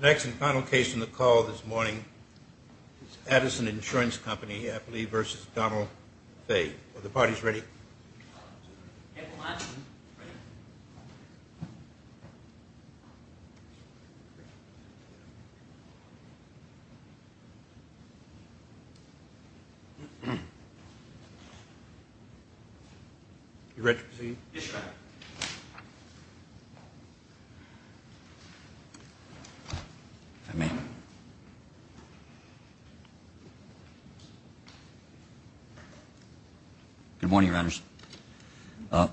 The next and final case on the call this morning is Addison Insurance Company, I believe, versus Donald Fay. Are the parties ready? Yes, sir. You ready to proceed? Yes, sir. If I may. Good morning, Your Honors.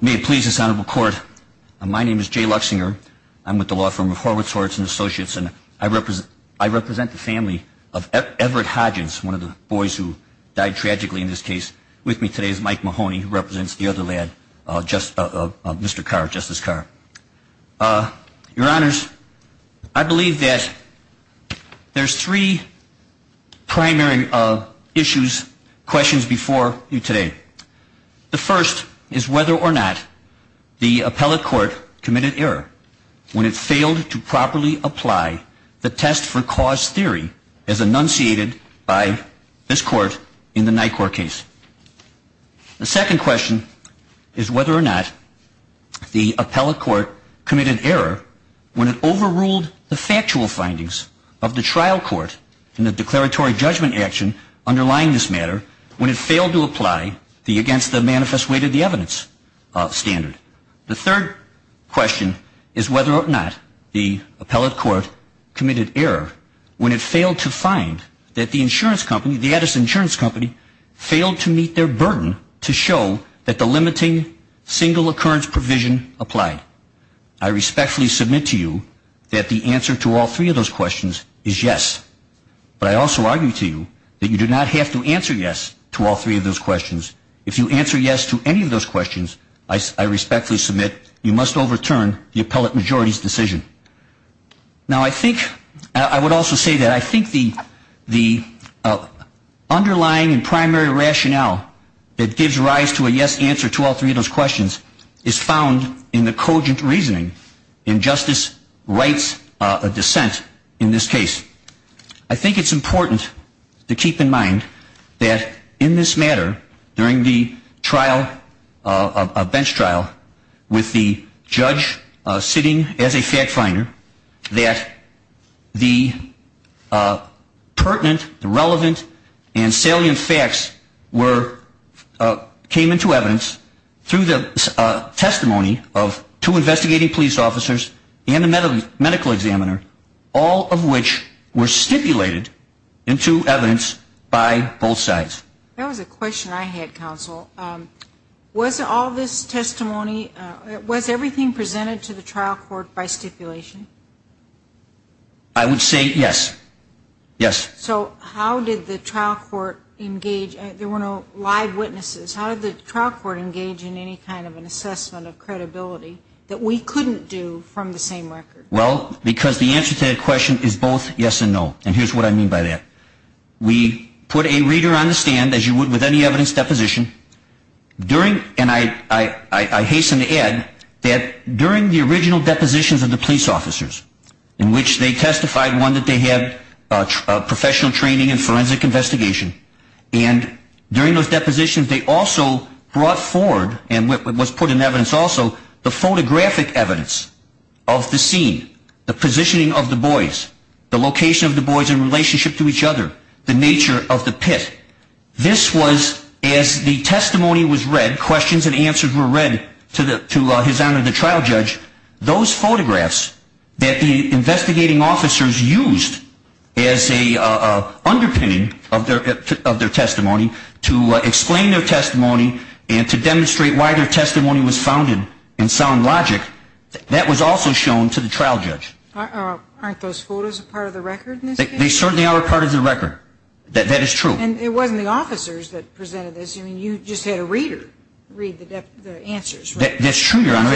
May it please this Honorable Court, my name is Jay Luxinger. I'm with the law firm of Horwitz Horts and Associates, and I represent the family of Everett Hodgins, one of the boys who died tragically in this case. With me today is Mike Mahoney, who represents the other lad, Mr. Carr, Justice Carr. Your Honors, I believe that there's three primary issues, questions before you today. The first is whether or not the appellate court committed error when it failed to properly apply the test for cause theory as enunciated by this Court in the Nyquist case. The second question is whether or not the appellate court committed error when it overruled the factual findings of the trial court in the declaratory judgment action underlying this matter when it failed to apply the against the manifest weight of the evidence standard. The third question is whether or not the appellate court committed error when it failed to find that the insurance company, the Edison Insurance Company, failed to meet their burden to show that the limiting single occurrence provision applied. I respectfully submit to you that the answer to all three of those questions is yes. But I also argue to you that you do not have to answer yes to all three of those questions. If you answer yes to any of those questions, I respectfully submit you must overturn the appellate majority's decision. Now, I think, I would also say that I think the underlying and primary rationale that gives rise to a yes answer to all three of those questions is found in the cogent reasoning in Justice Wright's dissent in this case. I think it's important to keep in mind that in this matter, during the trial, a bench trial, with the judge sitting as a fact finder, that the pertinent, relevant, and salient facts were, came into evidence through the testimony of two investigating police officers and a medical examiner, all of which were stipulated into evidence by both sides. That was a question I had, counsel. Was all this testimony, was everything presented to the trial court by stipulation? I would say yes. Yes. So how did the trial court engage? There were no live witnesses. How did the trial court engage in any kind of an assessment of credibility that we couldn't do from the same record? Well, because the answer to that question is both yes and no. And here's what I mean by that. We put a reader on the stand, as you would with any evidence deposition, and I hasten to add that during the original depositions of the police officers, in which they testified, one, that they had professional training in forensic investigation, and during those depositions they also brought forward, and was put in evidence also, the photographic evidence of the scene, the positioning of the boys, the location of the boys in relationship to each other, the nature of the pit. This was, as the testimony was read, questions and answers were read to His Honor the trial judge, those photographs that the investigating officers used as a underpinning of their testimony to explain their testimony and to demonstrate why their testimony was founded in sound logic, that was also shown to the trial judge. Aren't those photos a part of the record in this case? They certainly are a part of the record. That is true. And it wasn't the officers that presented this. I mean, you just had a reader read the answers. That's true, Your Honor.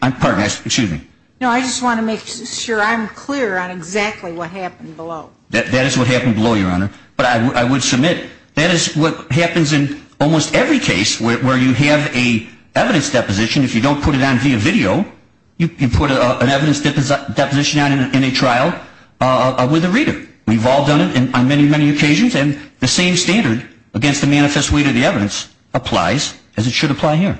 Pardon me. Excuse me. No, I just want to make sure I'm clear on exactly what happened below. That is what happened below, Your Honor. But I would submit that is what happens in almost every case where you have a evidence deposition. If you don't put it on via video, you put an evidence deposition on in a trial with a reader. We've all done it on many, many occasions, and the same standard against the manifest way to the evidence applies, as it should apply here.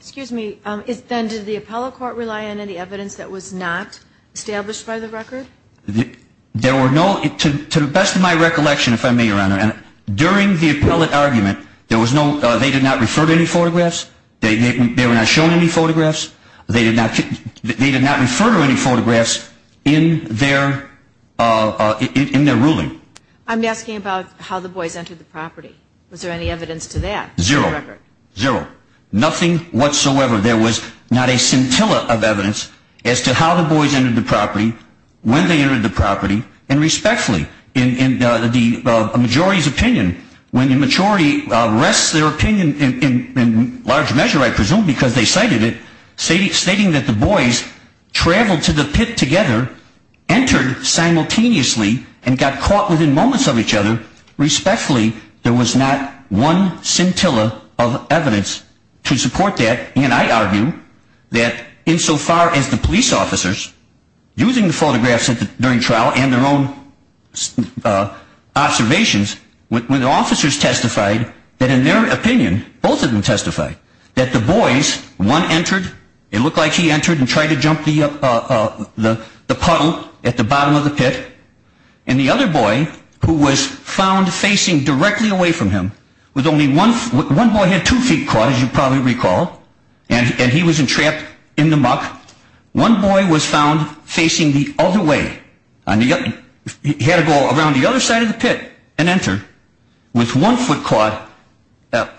Excuse me. Then did the appellate court rely on any evidence that was not established by the record? There were no, to the best of my recollection, if I may, Your Honor, during the appellate argument they did not refer to any photographs. They were not shown any photographs. They did not refer to any photographs in their ruling. I'm asking about how the boys entered the property. Was there any evidence to that in the record? Zero. Zero. Nothing whatsoever. There was not a scintilla of evidence as to how the boys entered the property, when they entered the property, and respectfully. In the majority's opinion, when the majority rests their opinion in large measure, I presume, because they cited it, stating that the boys traveled to the pit together, entered simultaneously, and got caught within moments of each other, respectfully, there was not one scintilla of evidence to support that. And I argue that insofar as the police officers, using the photographs during trial and their own observations, when the officers testified, that in their opinion, both of them testified, that the boys, one entered, it looked like he entered and tried to jump the puddle at the bottom of the pit, and the other boy, who was found facing directly away from him, one boy had two feet caught, as you probably recall, and he was entrapped in the muck. One boy was found facing the other way. He had to go around the other side of the pit and enter, with one foot caught,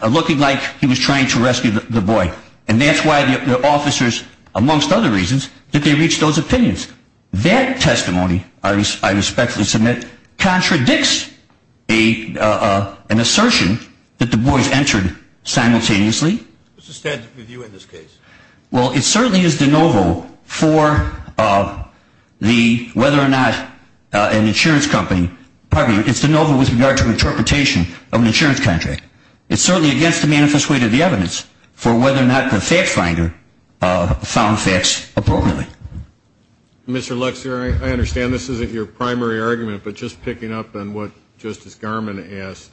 looking like he was trying to rescue the boy. And that's why the officers, amongst other reasons, that they reached those opinions. That testimony, I respectfully submit, contradicts an assertion that the boys entered simultaneously. What's the standard of review in this case? Well, it certainly is de novo for whether or not an insurance company, pardon me, it's de novo with regard to interpretation of an insurance contract. It's certainly against the manifest weight of the evidence for whether or not the facts finder found facts appropriately. Mr. Luxer, I understand this isn't your primary argument, but just picking up on what Justice Garmon asked,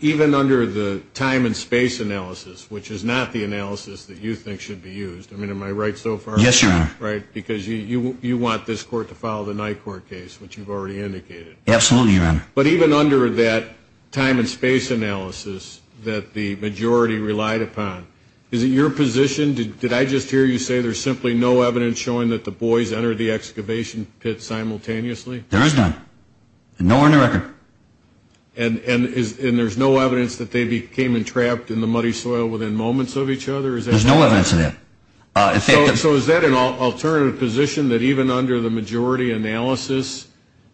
even under the time and space analysis, which is not the analysis that you think should be used, I mean, am I right so far? Yes, Your Honor. Right, because you want this court to follow the Nyquist case, which you've already indicated. Absolutely, Your Honor. But even under that time and space analysis that the majority relied upon, is it your position, did I just hear you say there's simply no evidence showing that the boys entered the excavation pit simultaneously? There is none. Nowhere in the record. And there's no evidence that they became entrapped in the muddy soil within moments of each other? There's no evidence of that. So is that an alternative position, that even under the majority analysis,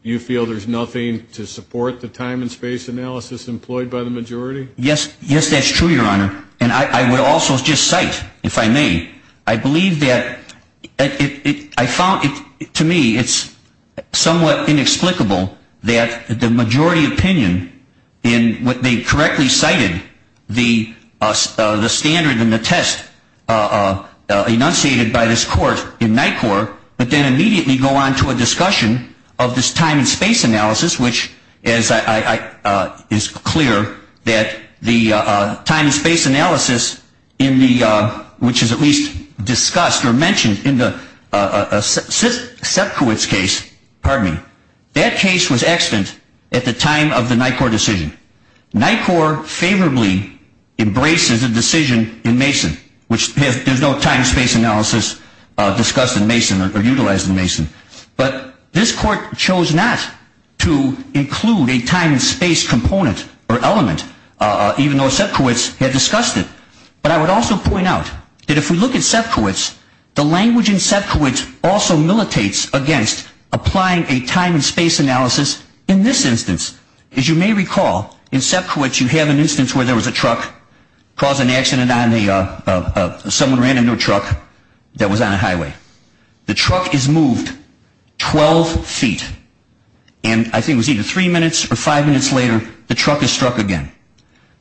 you feel there's nothing to support the time and space analysis employed by the majority? Yes, that's true, Your Honor. And I would also just cite, if I may, I believe that I found, to me, it's somewhat inexplicable that the majority opinion in what they correctly cited, the standard and the test enunciated by this court in NYCOR, but then immediately go on to a discussion of this time and space analysis, which is clear that the time and space analysis, which is at least discussed or mentioned in Sepkiewicz's case, that case was extant at the time of the NYCOR decision. NYCOR favorably embraces a decision in Mason, which there's no time and space analysis discussed in Mason or utilized in Mason. But this court chose not to include a time and space component or element, even though Sepkiewicz had discussed it. But I would also point out that if we look at Sepkiewicz, the language in Sepkiewicz also militates against applying a time and space analysis in this instance. As you may recall, in Sepkiewicz, you have an instance where there was a truck, caused an accident on the, someone ran into a truck that was on a highway. The truck is moved 12 feet. And I think it was either three minutes or five minutes later, the truck is struck again.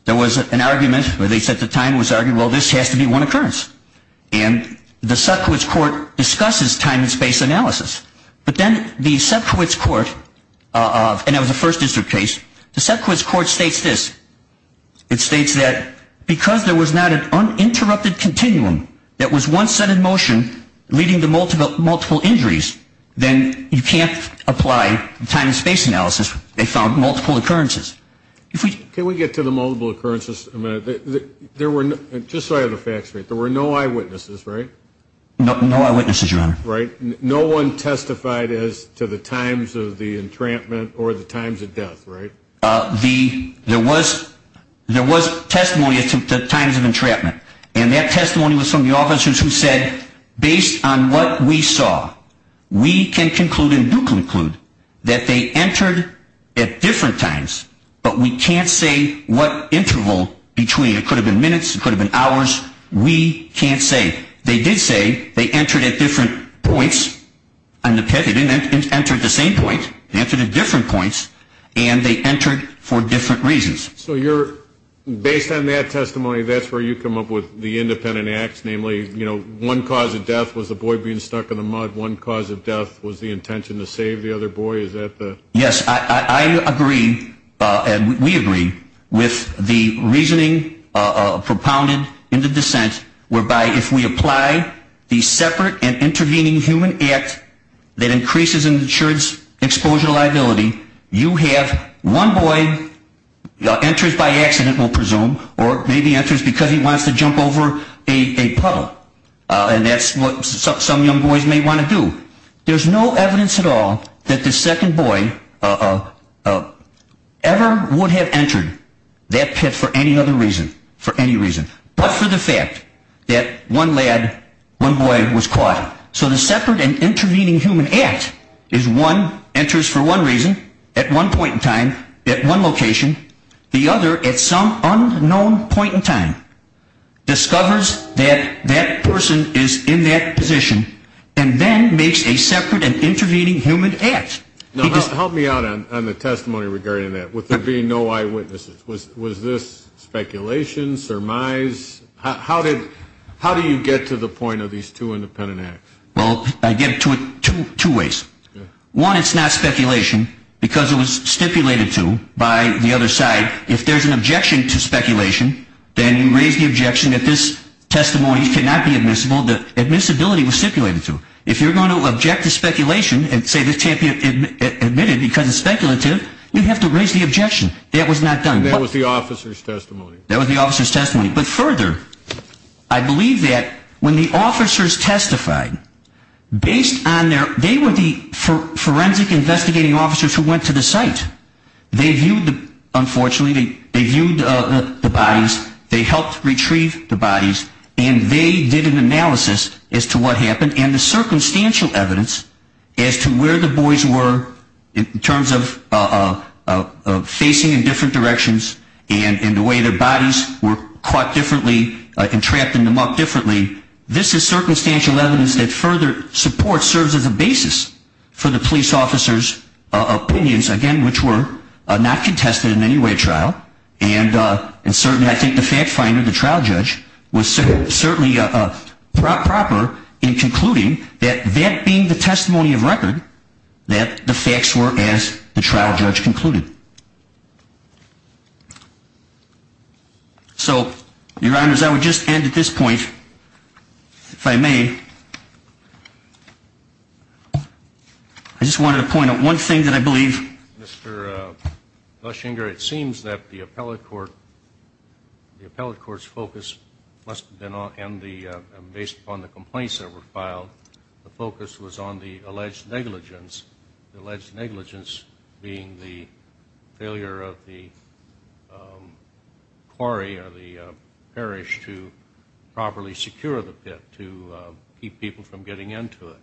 There was an argument where they said the time was argued, well, this has to be one occurrence. And the Sepkiewicz court discusses time and space analysis. But then the Sepkiewicz court, and it was a first district case, the Sepkiewicz court states this. It states that because there was not an uninterrupted continuum that was once set in motion, leading to multiple injuries, then you can't apply time and space analysis. They found multiple occurrences. Can we get to the multiple occurrences a minute? There were, just so I have the facts straight, there were no eyewitnesses, right? No eyewitnesses, Your Honor. Right. No one testified as to the times of the entrapment or the times of death, right? There was testimony as to the times of entrapment. And that testimony was from the officers who said, based on what we saw, we can conclude and do conclude that they entered at different times, but we can't say what interval between. It could have been minutes. It could have been hours. We can't say. They did say they entered at different points. They didn't enter at the same point. They entered at different points, and they entered for different reasons. So based on that testimony, that's where you come up with the independent acts, namely, one cause of death was a boy being stuck in the mud. One cause of death was the intention to save the other boy. Yes, I agree, and we agree, with the reasoning propounded in the dissent, whereby if we apply the separate and intervening human act that increases insurance exposure liability, you have one boy enters by accident, we'll presume, or maybe enters because he wants to jump over a puddle, and that's what some young boys may want to do. There's no evidence at all that the second boy ever would have entered that pit for any other reason, but for the fact that one lad, one boy was caught. So the separate and intervening human act is one enters for one reason at one point in time at one location, the other at some unknown point in time discovers that that person is in that position and then makes a separate and intervening human act. Now, help me out on the testimony regarding that, with there being no eyewitnesses. Was this speculation, surmise? How do you get to the point of these two independent acts? Well, I get to it two ways. One, it's not speculation because it was stipulated to by the other side. If there's an objection to speculation, then you raise the objection that this testimony cannot be admissible. The admissibility was stipulated to. If you're going to object to speculation and say this can't be admitted because it's speculative, you have to raise the objection that it was not done. And that was the officer's testimony. That was the officer's testimony. But further, I believe that when the officers testified, based on their, they were the forensic investigating officers who went to the site. They viewed, unfortunately, they viewed the bodies, they helped retrieve the bodies, and they did an analysis as to what happened and the circumstantial evidence as to where the boys were in terms of facing in different directions and the way their bodies were caught differently and trapped in the muck differently. This is circumstantial evidence that further support serves as a basis for the police officers' opinions, again, which were not contested in any way at trial. And certainly I think the fact finder, the trial judge, was certainly proper in concluding that that being the testimony of record, that the facts were as the trial judge concluded. So, Your Honors, I would just end at this point, if I may. I just wanted to point out one thing that I believe. Mr. Flushinger, it seems that the appellate court, the appellate court's focus, and based upon the complaints that were filed, the focus was on the alleged negligence, the alleged negligence being the failure of the quarry or the parish to properly secure the pit, to keep people from getting into it.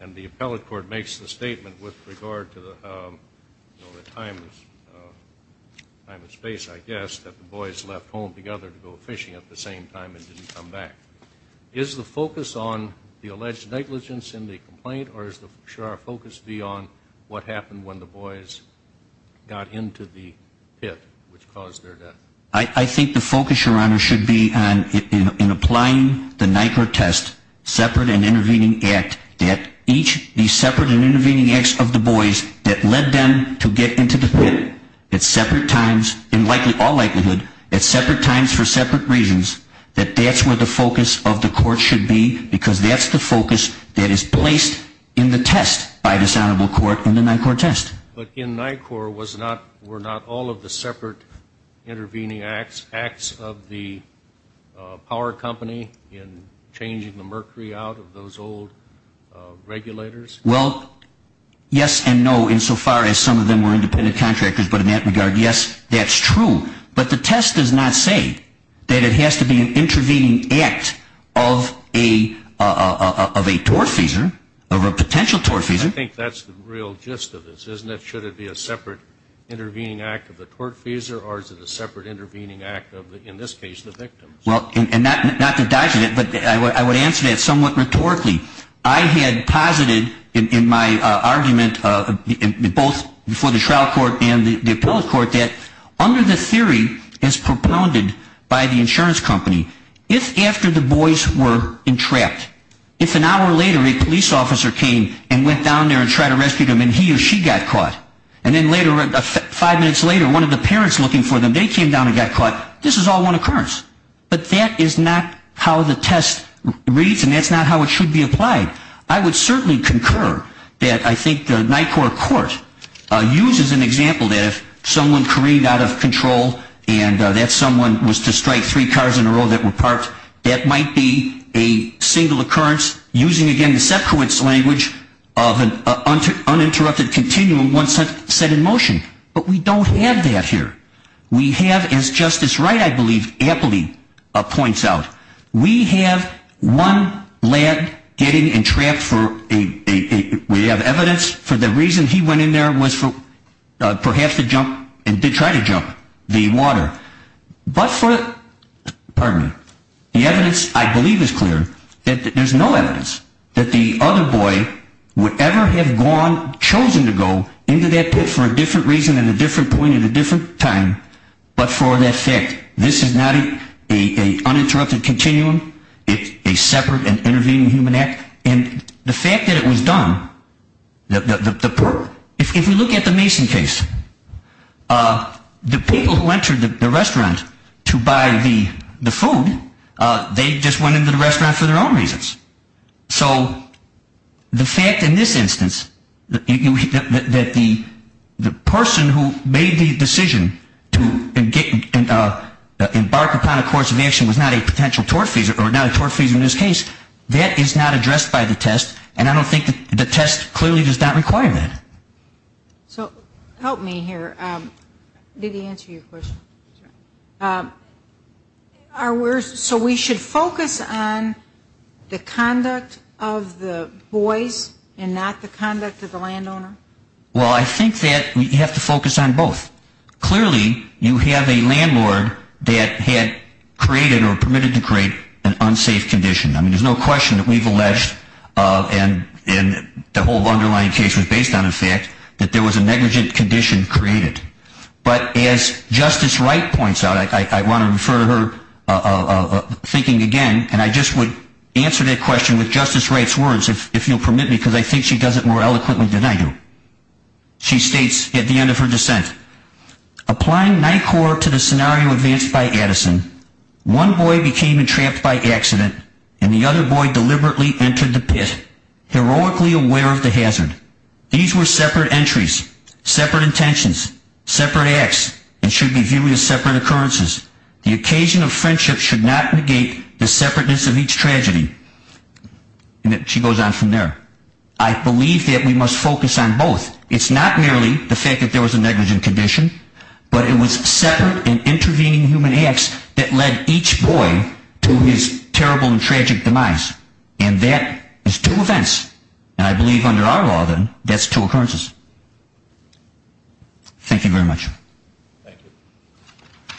And the appellate court makes the statement with regard to the time and space, I guess, that the boys left home together to go fishing at the same time and didn't come back. Is the focus on the alleged negligence in the complaint, or should our focus be on what happened when the boys got into the pit, which caused their death? I think the focus, Your Honor, should be in applying the NICRA test, separate and intervening act, that each of the separate and intervening acts of the boys that led them to get into the pit at separate times, in all likelihood, at separate times for separate reasons, that that's where the focus of the court should be, because that's the focus that is placed in the test by this Honorable Court in the NICRA test. But in NICRA were not all of the separate intervening acts of the power company in changing the mercury out of those old regulators? Well, yes and no, insofar as some of them were independent contractors, but in that regard, yes, that's true. But the test does not say that it has to be an intervening act of a tortfeasor, of a potential tortfeasor. I think that's the real gist of this, isn't it? Should it be a separate intervening act of the tortfeasor, or is it a separate intervening act of, in this case, the victims? Well, and not to dodge it, but I would answer that somewhat rhetorically. I had posited in my argument, both before the trial court and the appellate court, that under the theory as propounded by the insurance company, if after the boys were entrapped, if an hour later a police officer came and went down there and tried to rescue them, and he or she got caught, and then later, five minutes later, one of the parents looking for them, they came down and got caught, this is all one occurrence. But that is not how the test reads, and that's not how it should be applied. I would certainly concur that I think the NICOR court uses an example that if someone careened out of control and that someone was to strike three cars in a row that were parked, that might be a single occurrence using, again, the sequence language of an uninterrupted continuum once set in motion. But we don't have that here. We have, as Justice Wright, I believe, aptly points out, we have one lad getting entrapped for, we have evidence for the reason he went in there was perhaps to jump, and did try to jump, the water. But for, pardon me, the evidence I believe is clear that there's no evidence that the other boy would ever have gone, chosen to go, into that pit for a different reason at a different point at a different time, but for that fact. This is not an uninterrupted continuum. It's a separate and intervening human act. And the fact that it was done, if you look at the Mason case, the people who entered the restaurant to buy the food, they just went into the restaurant for their own reasons. So the fact in this instance that the person who made the decision to embark upon a course of action was not a potential tortfeasor, or not a tortfeasor in this case, that is not addressed by the test, and I don't think the test clearly does not require that. So help me here. Did he answer your question? So we should focus on the conduct of the boys and not the conduct of the landowner? Well, I think that we have to focus on both. Clearly, you have a landlord that had created or permitted to create an unsafe condition. I mean, there's no question that we've alleged, and the whole underlying case was based on the fact, that there was a negligent condition created. But as Justice Wright points out, I want to refer to her thinking again, and I just would answer that question with Justice Wright's words, if you'll permit me, because I think she does it more eloquently than I do. She states at the end of her dissent, Applying NICOR to the scenario advanced by Addison, one boy became entrapped by accident, and the other boy deliberately entered the pit, heroically aware of the hazard. These were separate entries, separate intentions, separate acts, and should be viewed as separate occurrences. The occasion of friendship should not negate the separateness of each tragedy. And she goes on from there. I believe that we must focus on both. It's not merely the fact that there was a negligent condition, but it was separate and intervening human acts that led each boy to his terrible and tragic demise. And that is two events. And I believe under our law, then, that's two occurrences. Thank you very much. Thank you.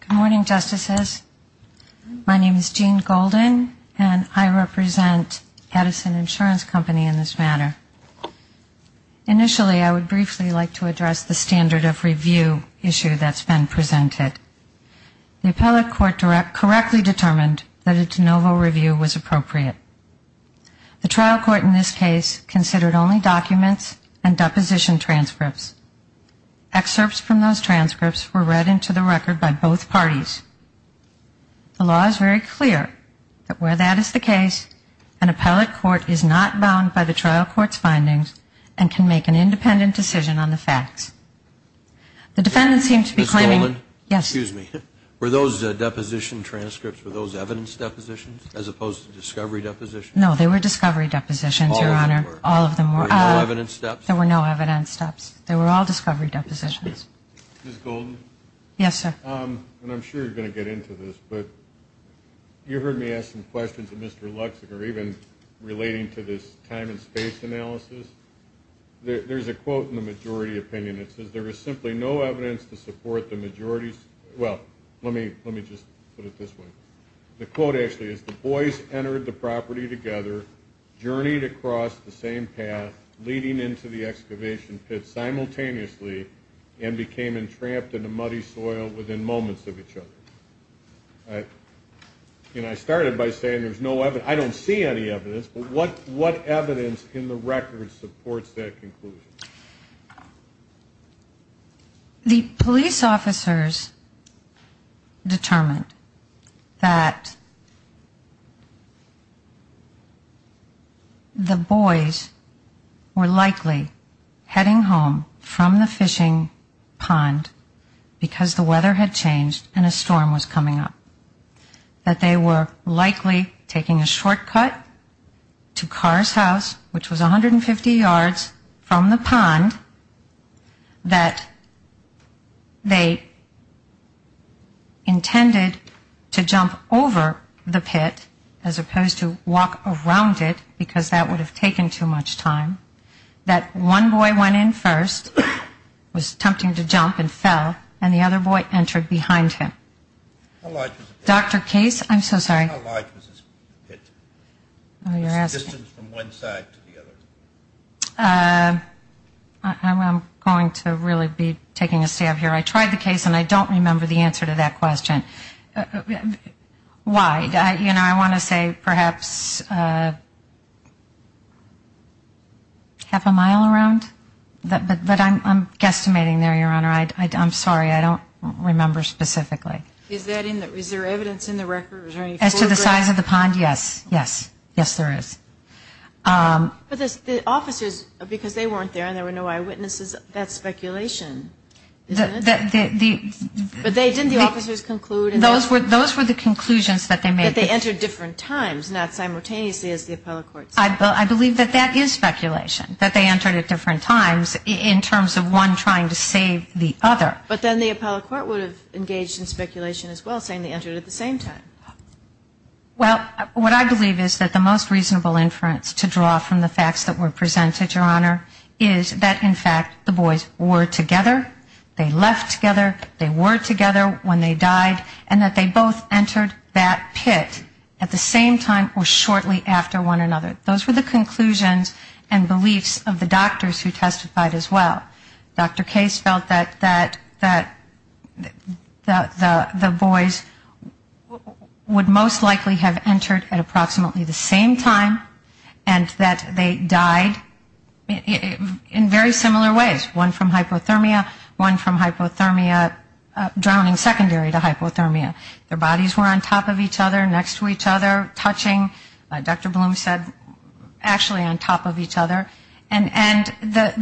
Good morning, Justices. My name is Jean Golden, and I represent Addison Insurance Company in this matter. Initially, I would briefly like to address the standard of review issue that's been presented. The appellate court correctly determined that a de novo review was appropriate. The trial court in this case considered only documents and deposition transcripts. Excerpts from those transcripts were read into the record by both parties. The law is very clear that where that is the case, an appellate court is not bound by the trial court's findings and can make an independent decision on the facts. The defendant seems to be claiming ñ Ms. Golden? Yes. Excuse me. Were those deposition transcripts, were those evidence depositions as opposed to discovery depositions? No, they were discovery depositions, Your Honor. All of them were. Were there no evidence steps? There were no evidence steps. They were all discovery depositions. Ms. Golden? Yes, sir. And I'm sure you're going to get into this, but you heard me ask some questions to Mr. Luksic, or even relating to this time and space analysis. There's a quote in the majority opinion that says, there is simply no evidence to support the majority ñ well, let me just put it this way. The quote actually is, the boys entered the property together, journeyed across the same path, leading into the excavation pit simultaneously, and became entrapped in the muddy soil within moments of each other. And I started by saying there's no evidence ñ I don't see any evidence, but what evidence in the record supports that conclusion? The police officers determined that the boys were likely heading home from the fishing pond because the weather had changed and a storm was coming up, that they were likely taking a shortcut to Carr's house, that they intended to jump over the pit as opposed to walk around it because that would have taken too much time, that one boy went in first, was attempting to jump and fell, and the other boy entered behind him. How large was the pit? Dr. Case, I'm so sorry. How large was the pit? Oh, you're asking. Was the distance from one side to the other? I'm going to really be taking a stab here. I tried the case, and I don't remember the answer to that question. Why? You know, I want to say perhaps half a mile around, but I'm guesstimating there, Your Honor. I'm sorry. I don't remember specifically. Is there evidence in the record? Is there any foreground? As to the size of the pond, yes. Yes. Yes, there is. But the officers, because they weren't there and there were no eyewitnesses, that's speculation, isn't it? But didn't the officers conclude? Those were the conclusions that they made. That they entered different times, not simultaneously as the appellate court said. I believe that that is speculation, that they entered at different times in terms of one trying to save the other. But then the appellate court would have engaged in speculation as well, saying they entered at the same time. Well, what I believe is that the most reasonable inference to draw from the facts that were presented, Your Honor, is that, in fact, the boys were together, they left together, they were together when they died, and that they both entered that pit at the same time or shortly after one another. Those were the conclusions and beliefs of the doctors who testified as well. Dr. Case felt that the boys would most likely have entered at approximately the same time and that they died in very similar ways, one from hypothermia, one from hypothermia drowning secondary to hypothermia. Their bodies were on top of each other, next to each other, touching, Dr. Bloom said, actually on top of each other. But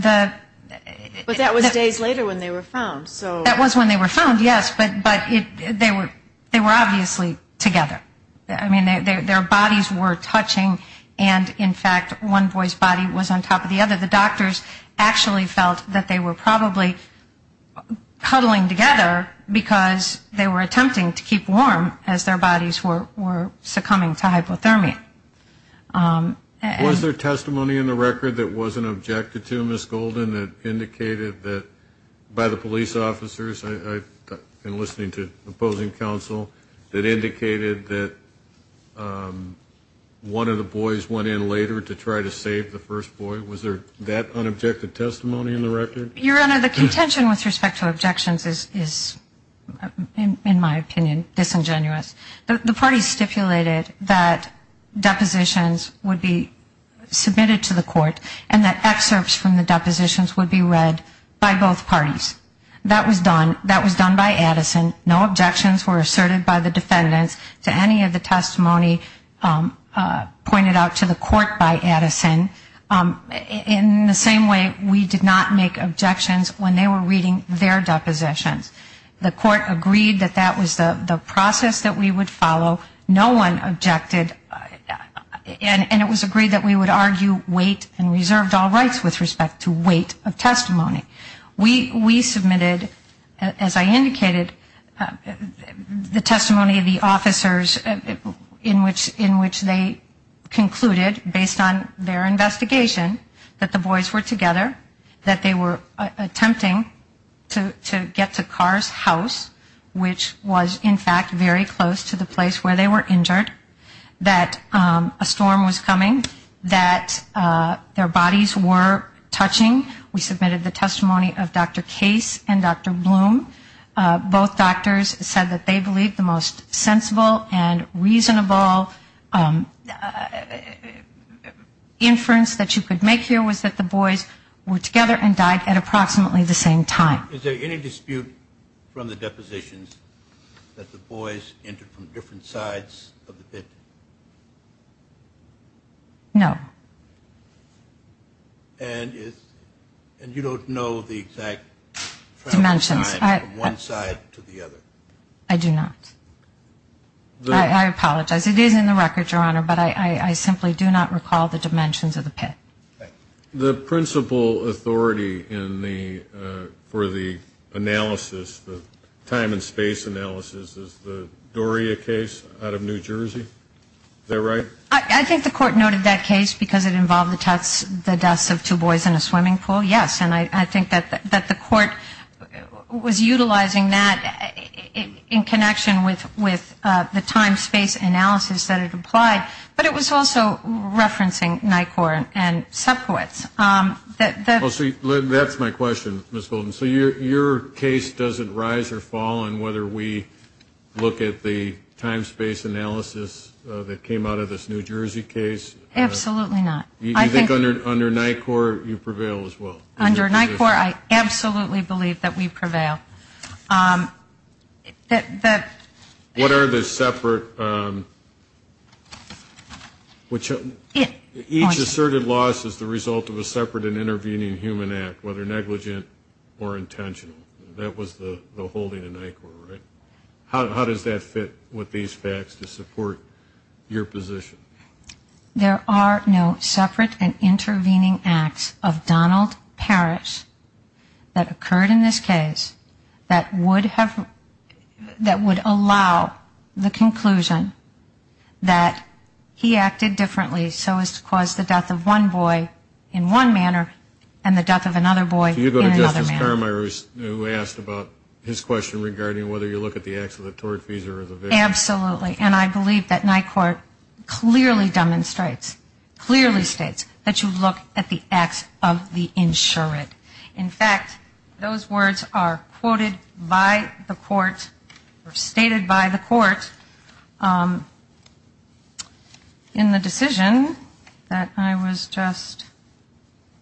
that was days later when they were found. That was when they were found, yes, but they were obviously together. I mean, their bodies were touching, and, in fact, one boy's body was on top of the other. The doctors actually felt that they were probably cuddling together because they were attempting to keep warm as their bodies were succumbing to hypothermia. Was there testimony in the record that wasn't objected to, Ms. Golden, that indicated that by the police officers, and listening to opposing counsel, that indicated that one of the boys went in later to try to save the first boy? Was there that unobjected testimony in the record? Your Honor, the contention with respect to objections is, in my opinion, disingenuous. The parties stipulated that depositions would be submitted to the court and that excerpts from the depositions would be read by both parties. That was done. That was done by Addison. No objections were asserted by the defendants to any of the testimony pointed out to the court by Addison. In the same way, we did not make objections when they were reading their depositions. The court agreed that that was the process that we would follow. No one objected. And it was agreed that we would argue weight and reserved all rights with respect to weight of testimony. We submitted, as I indicated, the testimony of the officers in which they concluded, based on their investigation, that the boys were together, that they were attempting to get to Carr's house, which was, in fact, very close to the place where they were injured, that a storm was coming, that their bodies were touching. We submitted the testimony of Dr. Case and Dr. Bloom. Both doctors said that they believed the most sensible and reasonable inference that you could make here was that the boys were together and died at approximately the same time. Is there any dispute from the depositions that the boys entered from different sides of the pit? No. And you don't know the exact time from one side to the other? I do not. I apologize. It is in the record, Your Honor, but I simply do not recall the dimensions of the pit. The principal authority for the analysis, the time and space analysis, is the Doria case out of New Jersey. Is that right? I think the court noted that case because it involved the deaths of two boys in a swimming pool, yes. And I think that the court was utilizing that in connection with the time-space analysis that it applied. But it was also referencing NICOR and subcourts. That's my question, Ms. Golden. So your case doesn't rise or fall in whether we look at the time-space analysis that came out of this New Jersey case? Absolutely not. You think under NICOR you prevail as well? Under NICOR, I absolutely believe that we prevail. What are the separate ‑‑ each asserted loss is the result of a separate and intervening human act, whether negligent or intentional. That was the holding of NICOR, right? How does that fit with these facts to support your position? There are no separate and intervening acts of Donald Parrish that occurred in this case that would have ‑‑ that would allow the conclusion that he acted differently so as to cause the death of one boy in one manner and the death of another boy in another manner. Can you go to Justice Carmichael who asked about his question regarding whether you look at the acts of the tortfeasor or the victim? Absolutely. And I believe that NICOR clearly demonstrates, clearly states that you look at the acts of the insurant. In fact, those words are quoted by the court or stated by the court in the decision that I was just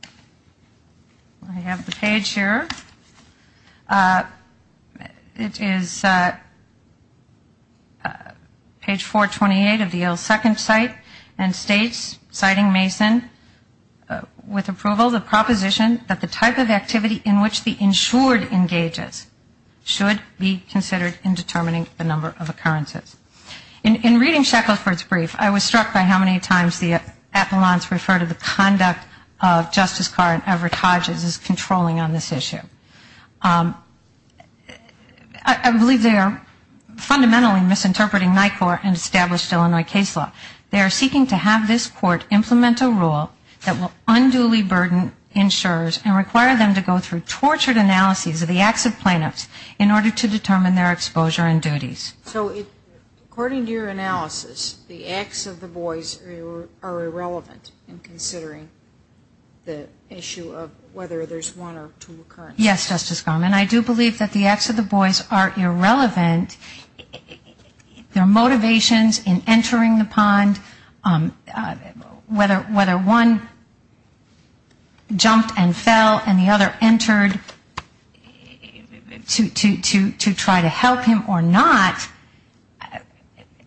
‑‑ I have the page here. It is page 428 of the Yale Second Cite and states, citing Mason, with approval the proposition that the type of activity in which the insured engages should be considered in determining the number of occurrences. In reading Shackelford's brief, I was struck by how many times the appellants refer to the conduct of Justice Carr and Everett Hodges as controlling on this issue. I believe they are fundamentally misinterpreting NICOR and established Illinois case law. They are seeking to have this court implement a rule that will unduly burden insurers and require them to go through tortured analyses of the acts of plaintiffs in order to determine their exposure and duties. So according to your analysis, the acts of the boys are irrelevant in considering the issue of whether there's one or two occurrences? Yes, Justice Garland. I do believe that the acts of the boys are irrelevant. Their motivations in entering the pond, whether one jumped and fell and the other entered to try to help him or not,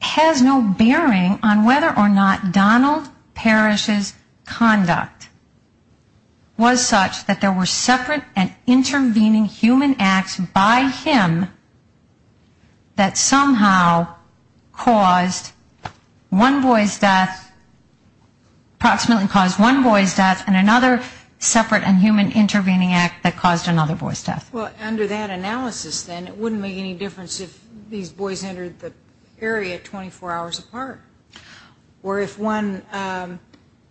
has no bearing on whether or not Donald Parrish's conduct was such that there were separate and intervening human acts by him that somehow caused one boy's death, approximately caused one boy's death, and another separate and human intervening act that caused another boy's death. Well, under that analysis, then, it wouldn't make any difference if these boys entered the area 24 hours apart or if one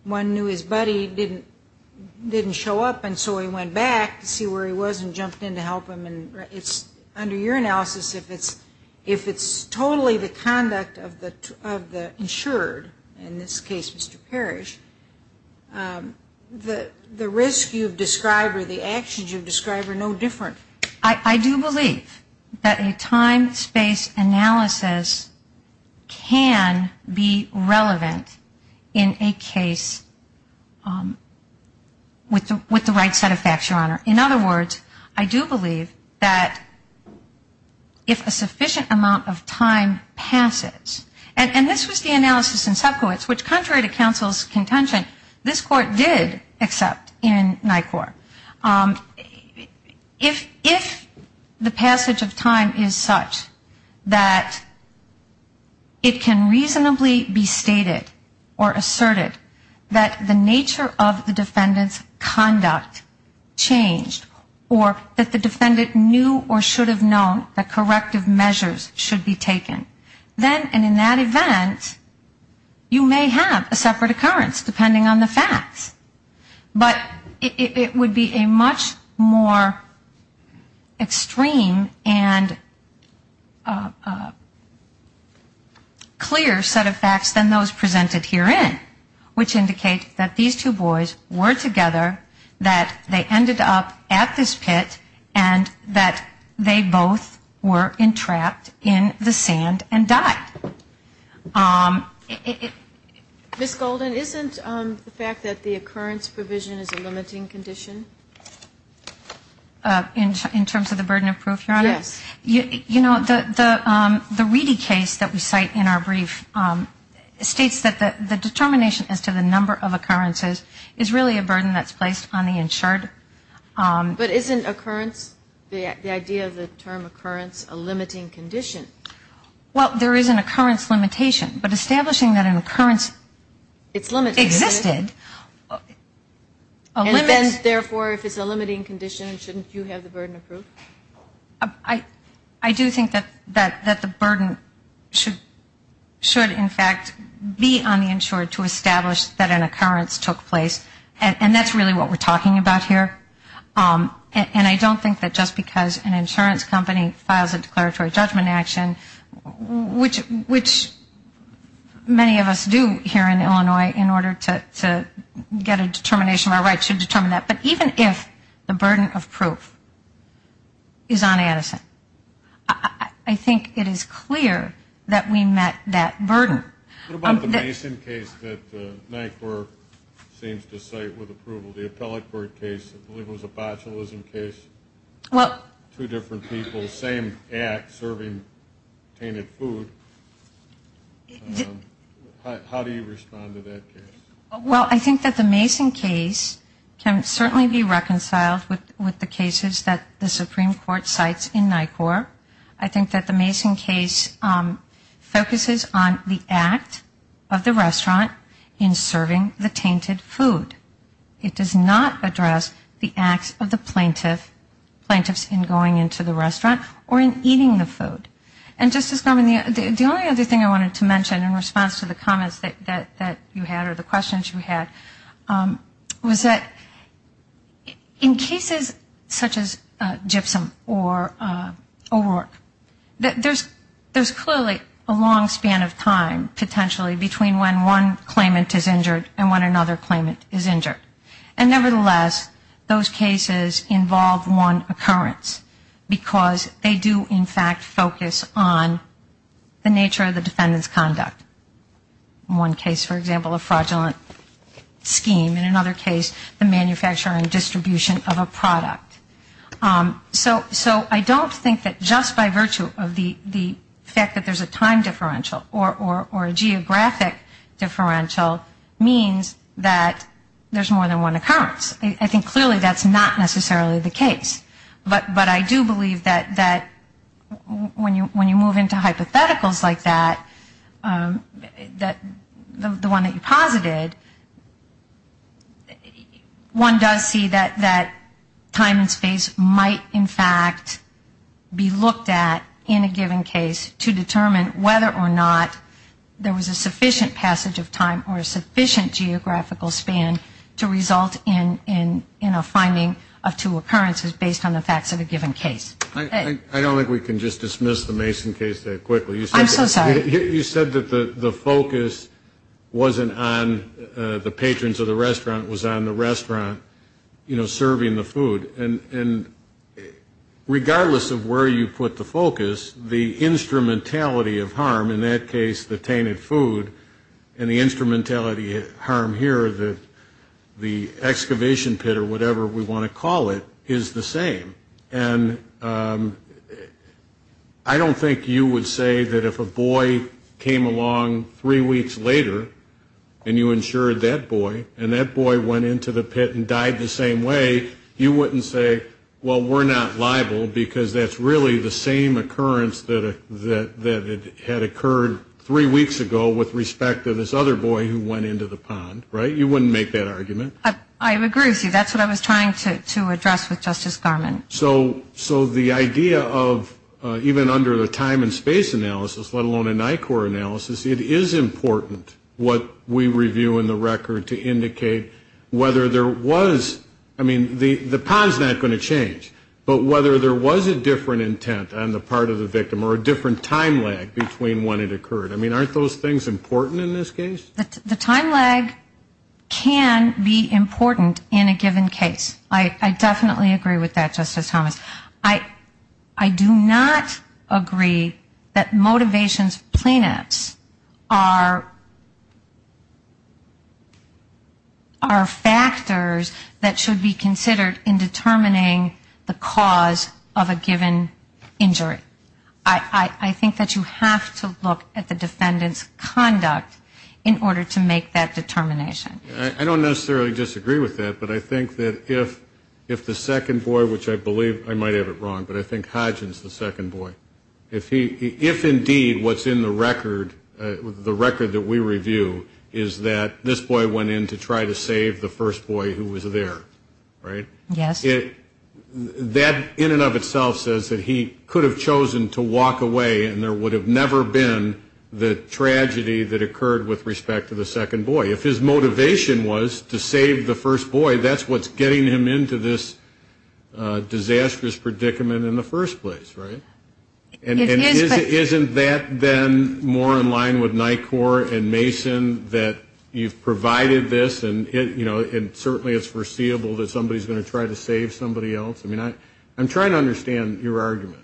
knew his buddy didn't show up and so he went back to see where he was and jumped in to help him. Under your analysis, if it's totally the conduct of the insured, in this case Mr. Parrish, the risk you've described or the actions you've described are no different. I do believe that a time-space analysis can be relevant in a case with the right set of facts, Your Honor. In other words, I do believe that if a sufficient amount of time passes, and this was the analysis in subcourts, which contrary to counsel's contention, this court did accept in NICOR, if the passage of time is such that it can reasonably be stated or asserted that the nature of the defendant's conduct changed or that the defendant knew or should have known that corrective measures should be taken, then in that event, you may have a separate occurrence, depending on the facts. But it would be a much more extreme and clear set of facts than those presented herein, which indicate that these two boys were together, that they ended up at this pit, and that they both were entrapped in the sand and died. Ms. Golden, isn't the fact that the occurrence provision is a limiting condition? In terms of the burden of proof, Your Honor? Yes. You know, the Reedy case that we cite in our brief states that the determination as to the number of occurrences is really a burden that's placed on the insured. But isn't occurrence, the idea of the term occurrence, a limiting condition? Well, there is an occurrence limitation. But establishing that an occurrence existed. And then, therefore, if it's a limiting condition, shouldn't you have the burden of proof? I do think that the burden should, in fact, be on the insured to establish that an occurrence took place. And that's really what we're talking about here. And I don't think that just because an insurance company files a declaratory judgment action, which many of us do here in Illinois in order to get a determination of our rights to determine that, but even if the burden of proof is on Addison, I think it is clear that we met that burden. What about the Mason case that Nyquist seems to cite with approval, the Appellate Court case? I believe it was a bachelors in case. Well. Two different people, same act, serving tainted food. How do you respond to that case? Well, I think that the Mason case can certainly be reconciled with the cases that the Supreme Court cites in NYCORP. I think that the Mason case focuses on the act of the restaurant in serving the tainted food. It does not address the acts of the plaintiffs in going into the restaurant or in eating the food. And, Justice Gorman, the only other thing I wanted to mention in response to the comments that you had or the questions you had was that in cases such as Gypsum or O'Rourke, there's clearly a long span of time, And, nevertheless, those cases involve one occurrence because they do, in fact, focus on the nature of the defendant's conduct. One case, for example, a fraudulent scheme. In another case, the manufacturer and distribution of a product. So I don't think that just by virtue of the fact that there's a time differential or a geographic differential means that there's more than one occurrence. I think clearly that's not necessarily the case. But I do believe that when you move into hypotheticals like that, the one that you posited, one does see that time and space might, in fact, be looked at in a given case to determine whether or not there was a sufficient passage of time or a sufficient geographical span to result in a finding of two occurrences based on the facts of a given case. I don't think we can just dismiss the Mason case that quickly. I'm so sorry. You said that the focus wasn't on the patrons of the restaurant, it was on the restaurant serving the food. And regardless of where you put the focus, the instrumentality of harm, in that case the tainted food, and the instrumentality of harm here, the excavation pit or whatever we want to call it, is the same. And I don't think you would say that if a boy came along three weeks later and you insured that boy, and that boy went into the pit and died the same way, you wouldn't say, well, we're not liable, because that's really the same occurrence that had occurred three weeks ago with respect to this other boy who went into the pond, right? You wouldn't make that argument. I agree with you. That's what I was trying to address with Justice Garmon. So the idea of even under the time and space analysis, let alone a NICOR analysis, it is important what we review in the record to indicate whether there was, I mean, the pond's not going to change, but whether there was a different intent on the part of the victim or a different time lag between when it occurred. I mean, aren't those things important in this case? The time lag can be important in a given case. I definitely agree with that, Justice Thomas. I do not agree that motivations of plaintiffs are factors that should be considered in determining the cause of a given injury. I think that you have to look at the defendant's conduct in order to make that determination. I don't necessarily disagree with that, but I think that if the second boy, which I believe, I might have it wrong, but I think Hodgins is the second boy, if indeed what's in the record, the record that we review, is that this boy went in to try to save the first boy who was there, right? Yes. That in and of itself says that he could have chosen to walk away and there would have never been the tragedy that occurred with respect to the second boy. If his motivation was to save the first boy, that's what's getting him into this disastrous predicament in the first place, right? And isn't that then more in line with NICOR and Mason that you've provided this and, you know, and certainly it's foreseeable that somebody's going to try to save somebody else? I mean, I'm trying to understand your argument.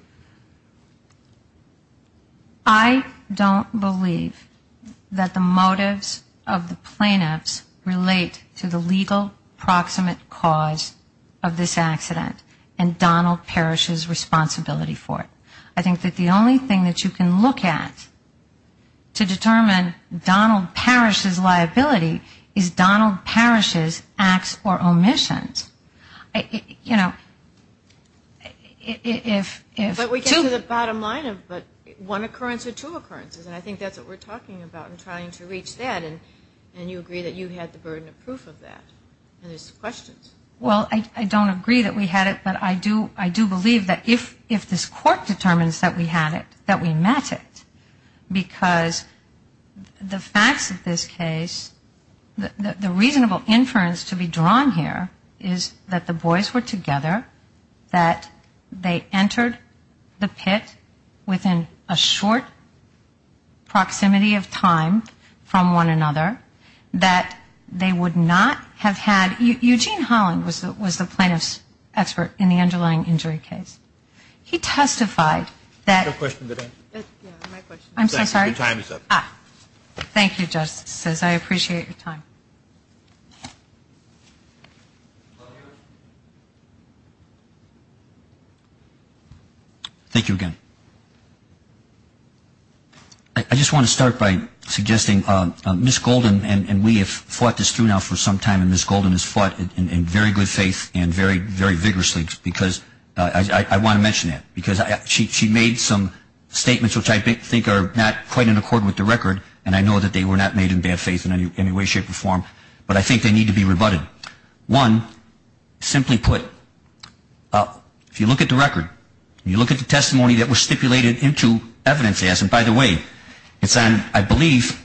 I don't believe that the motives of the plaintiffs relate to the legal proximate cause of this accident and Donald Parrish's responsibility for it. I think that the only thing that you can look at to determine Donald Parrish's liability is Donald Parrish's responsibility for it. And I think that's what we're talking about in trying to reach that and you agree that you had the burden of proof of that and there's questions. Well, I don't agree that we had it, but I do believe that if this court determines that we had it, that we met it, because the facts of this case, the reasonable inference to be drawn here is that the boys were together, that they entered the pit within a short proximity of time from one another, that they would not have had, Eugene Holland was the plaintiff's expert in the underlying injury case. He testified that... Thank you again. I just want to start by suggesting Ms. Golden and we have fought this through now for some time and Ms. Golden has fought in very good faith and very vigorously, because I want to mention that, because she made some statements which I think are not quite in accord with the record and I know that they were not made in bad faith in any way, shape or form, but I think they need to be rebutted. One, simply put, if you look at the record, you look at the testimony that was stipulated into evidence, and by the way, it's on, I believe,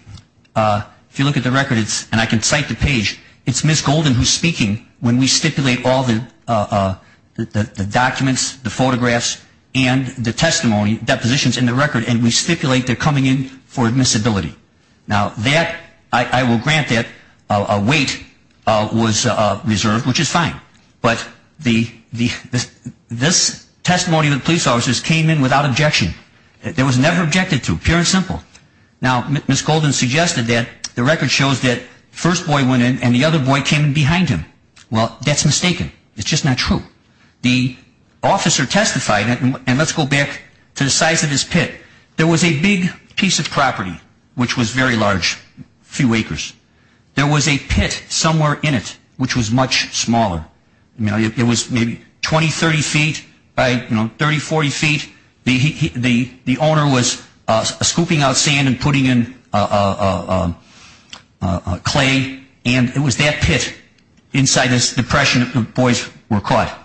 if you look at the record, and I can cite the page, it's Ms. Golden who's speaking when we stipulate all the documents, the photographs, and the testimony, depositions in the record, and we stipulate they're coming in for admissibility. Now, that, I will grant that a weight was reserved, which is fine, but this testimony of the police officers came in without objection. It was never objected to, pure and simple. Now, Ms. Golden suggested that the record shows that the first boy went in and the other boy came in behind him. Well, that's mistaken. It's just not true. The officer testified, and let's go back to the size of his pit. There was a big piece of property which was very large, a few acres. There was a pit somewhere in it which was much smaller. It was maybe 20, 30 feet by, you know, 30, 40 feet. The owner was scooping out sand and putting in clay, and it was that pit inside this depression that the boys were caught.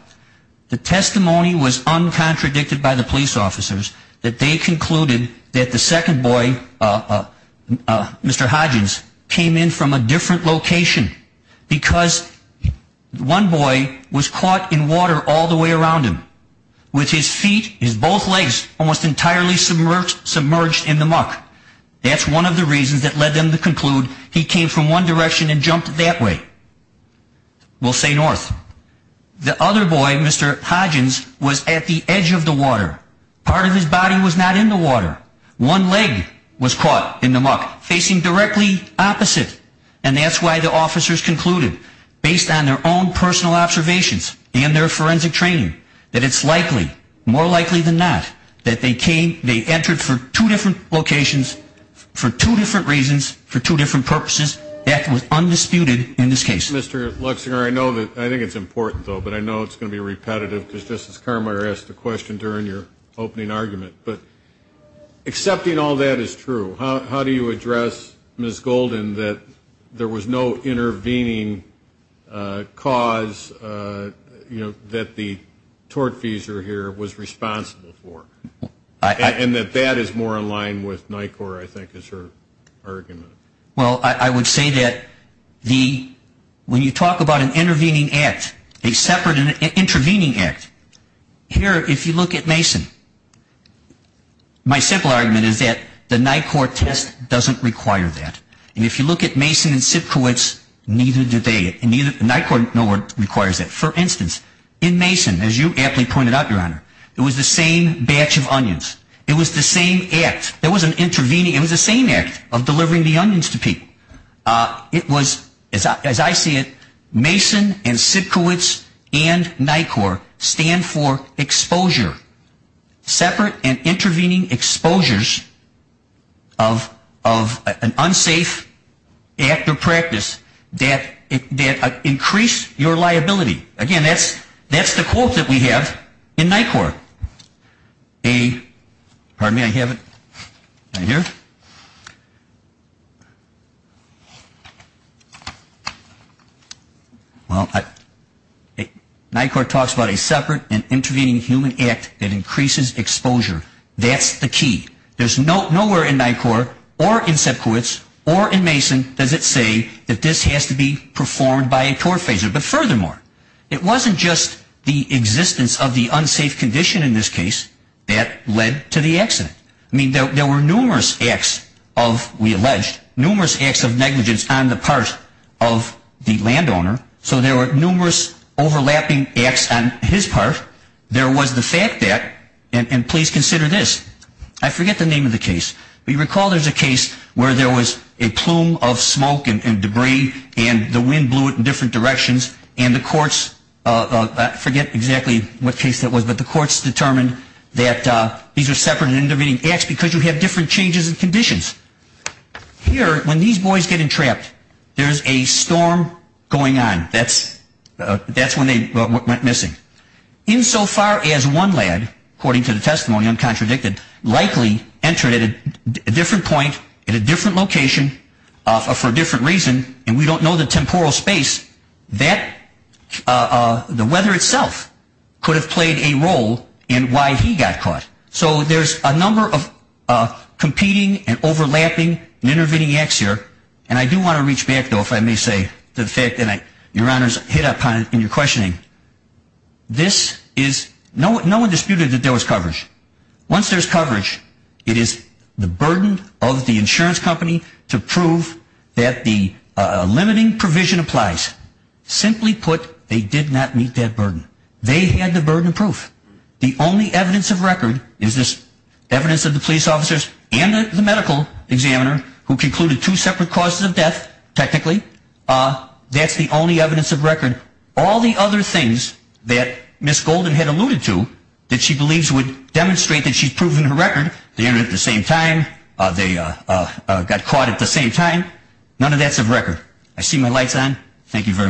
The testimony was uncontradicted by the police officers that they concluded that the second boy, Mr. Hodgins, came in from a different location. Because one boy was caught in water all the way around him with his feet, his both legs, almost entirely submerged in the muck. That's one of the reasons that led them to conclude he came from one direction and jumped that way. We'll say north. The other boy, Mr. Hodgins, was at the edge of the water. Part of his body was not in the water. One leg was caught in the muck, facing directly opposite. And that's why the officers concluded, based on their own personal observations and their forensic training, that it's likely, more likely than not, that they entered from two different locations for two different reasons, for two different purposes. That was undisputed in this case. Mr. Luxinger, I think it's important, though, but I know it's going to be repetitive, because Justice Kramer asked a question during your opening argument. But accepting all that is true. How do you address Ms. Golden, that there was no intervening cause that the tortfeasor here was responsible for? And that that is more in line with NICOR, I think, is her argument. Well, I would say that when you talk about an intervening act, a separate intervening act, here, if you look at Mason, my simple argument is that the NICOR test doesn't require that. And if you look at Mason and Sipkowitz, neither do they. NICOR no more requires that. For instance, in Mason, as you aptly pointed out, Your Honor, it was the same batch of onions. It was the same act. It was the same act of delivering the onions to people. It was, as I see it, Mason and Sipkowitz and NICOR stand for exposure. Separate and intervening exposures of an unsafe act or practice that increase your liability. Again, that's the quote that we have in NICOR. NICOR talks about a separate and intervening human act that increases exposure. That's the key. There's nowhere in NICOR or in Sipkowitz or in Mason does it say that this has to be performed by a tortfeasor. But furthermore, it wasn't just the existence of the unsafe condition in this case that led to the accident. I mean, there were numerous acts of, we alleged, numerous acts of negligence on the part of the landowner. So there were numerous overlapping acts on his part. There was the fact that, and please consider this, I forget the name of the case, but you recall there's a case where there was a plume of smoke and debris and the wind blew it in different directions. And the courts, I forget exactly what case that was, but the courts determined that these are separate and intervening acts because you have different changes in conditions. Here, when these boys get entrapped, there's a storm going on. That's when they went missing. Insofar as one lad, according to the testimony, uncontradicted, likely entered at a different point, at a different location, for a different reason, and we don't know the temporal space, the weather itself could have played a role in why he got caught. So there's a number of competing and overlapping and intervening acts here. And I do want to reach back, though, if I may say, to the fact that Your Honor's hit upon it in your questioning. This is, no one disputed that there was coverage. Once there's coverage, it is the burden of the insurance company to prove that the limiting provision applies. Simply put, they did not meet that burden. They had the burden of proof. The only evidence of record is this evidence of the police officers and the medical examiner who concluded two separate causes of death, technically. All the other things that Ms. Golden had alluded to, that she believes would demonstrate that she's proven her record, they entered at the same time, they got caught at the same time, none of that's of record. I see my light's on. Thank you very much.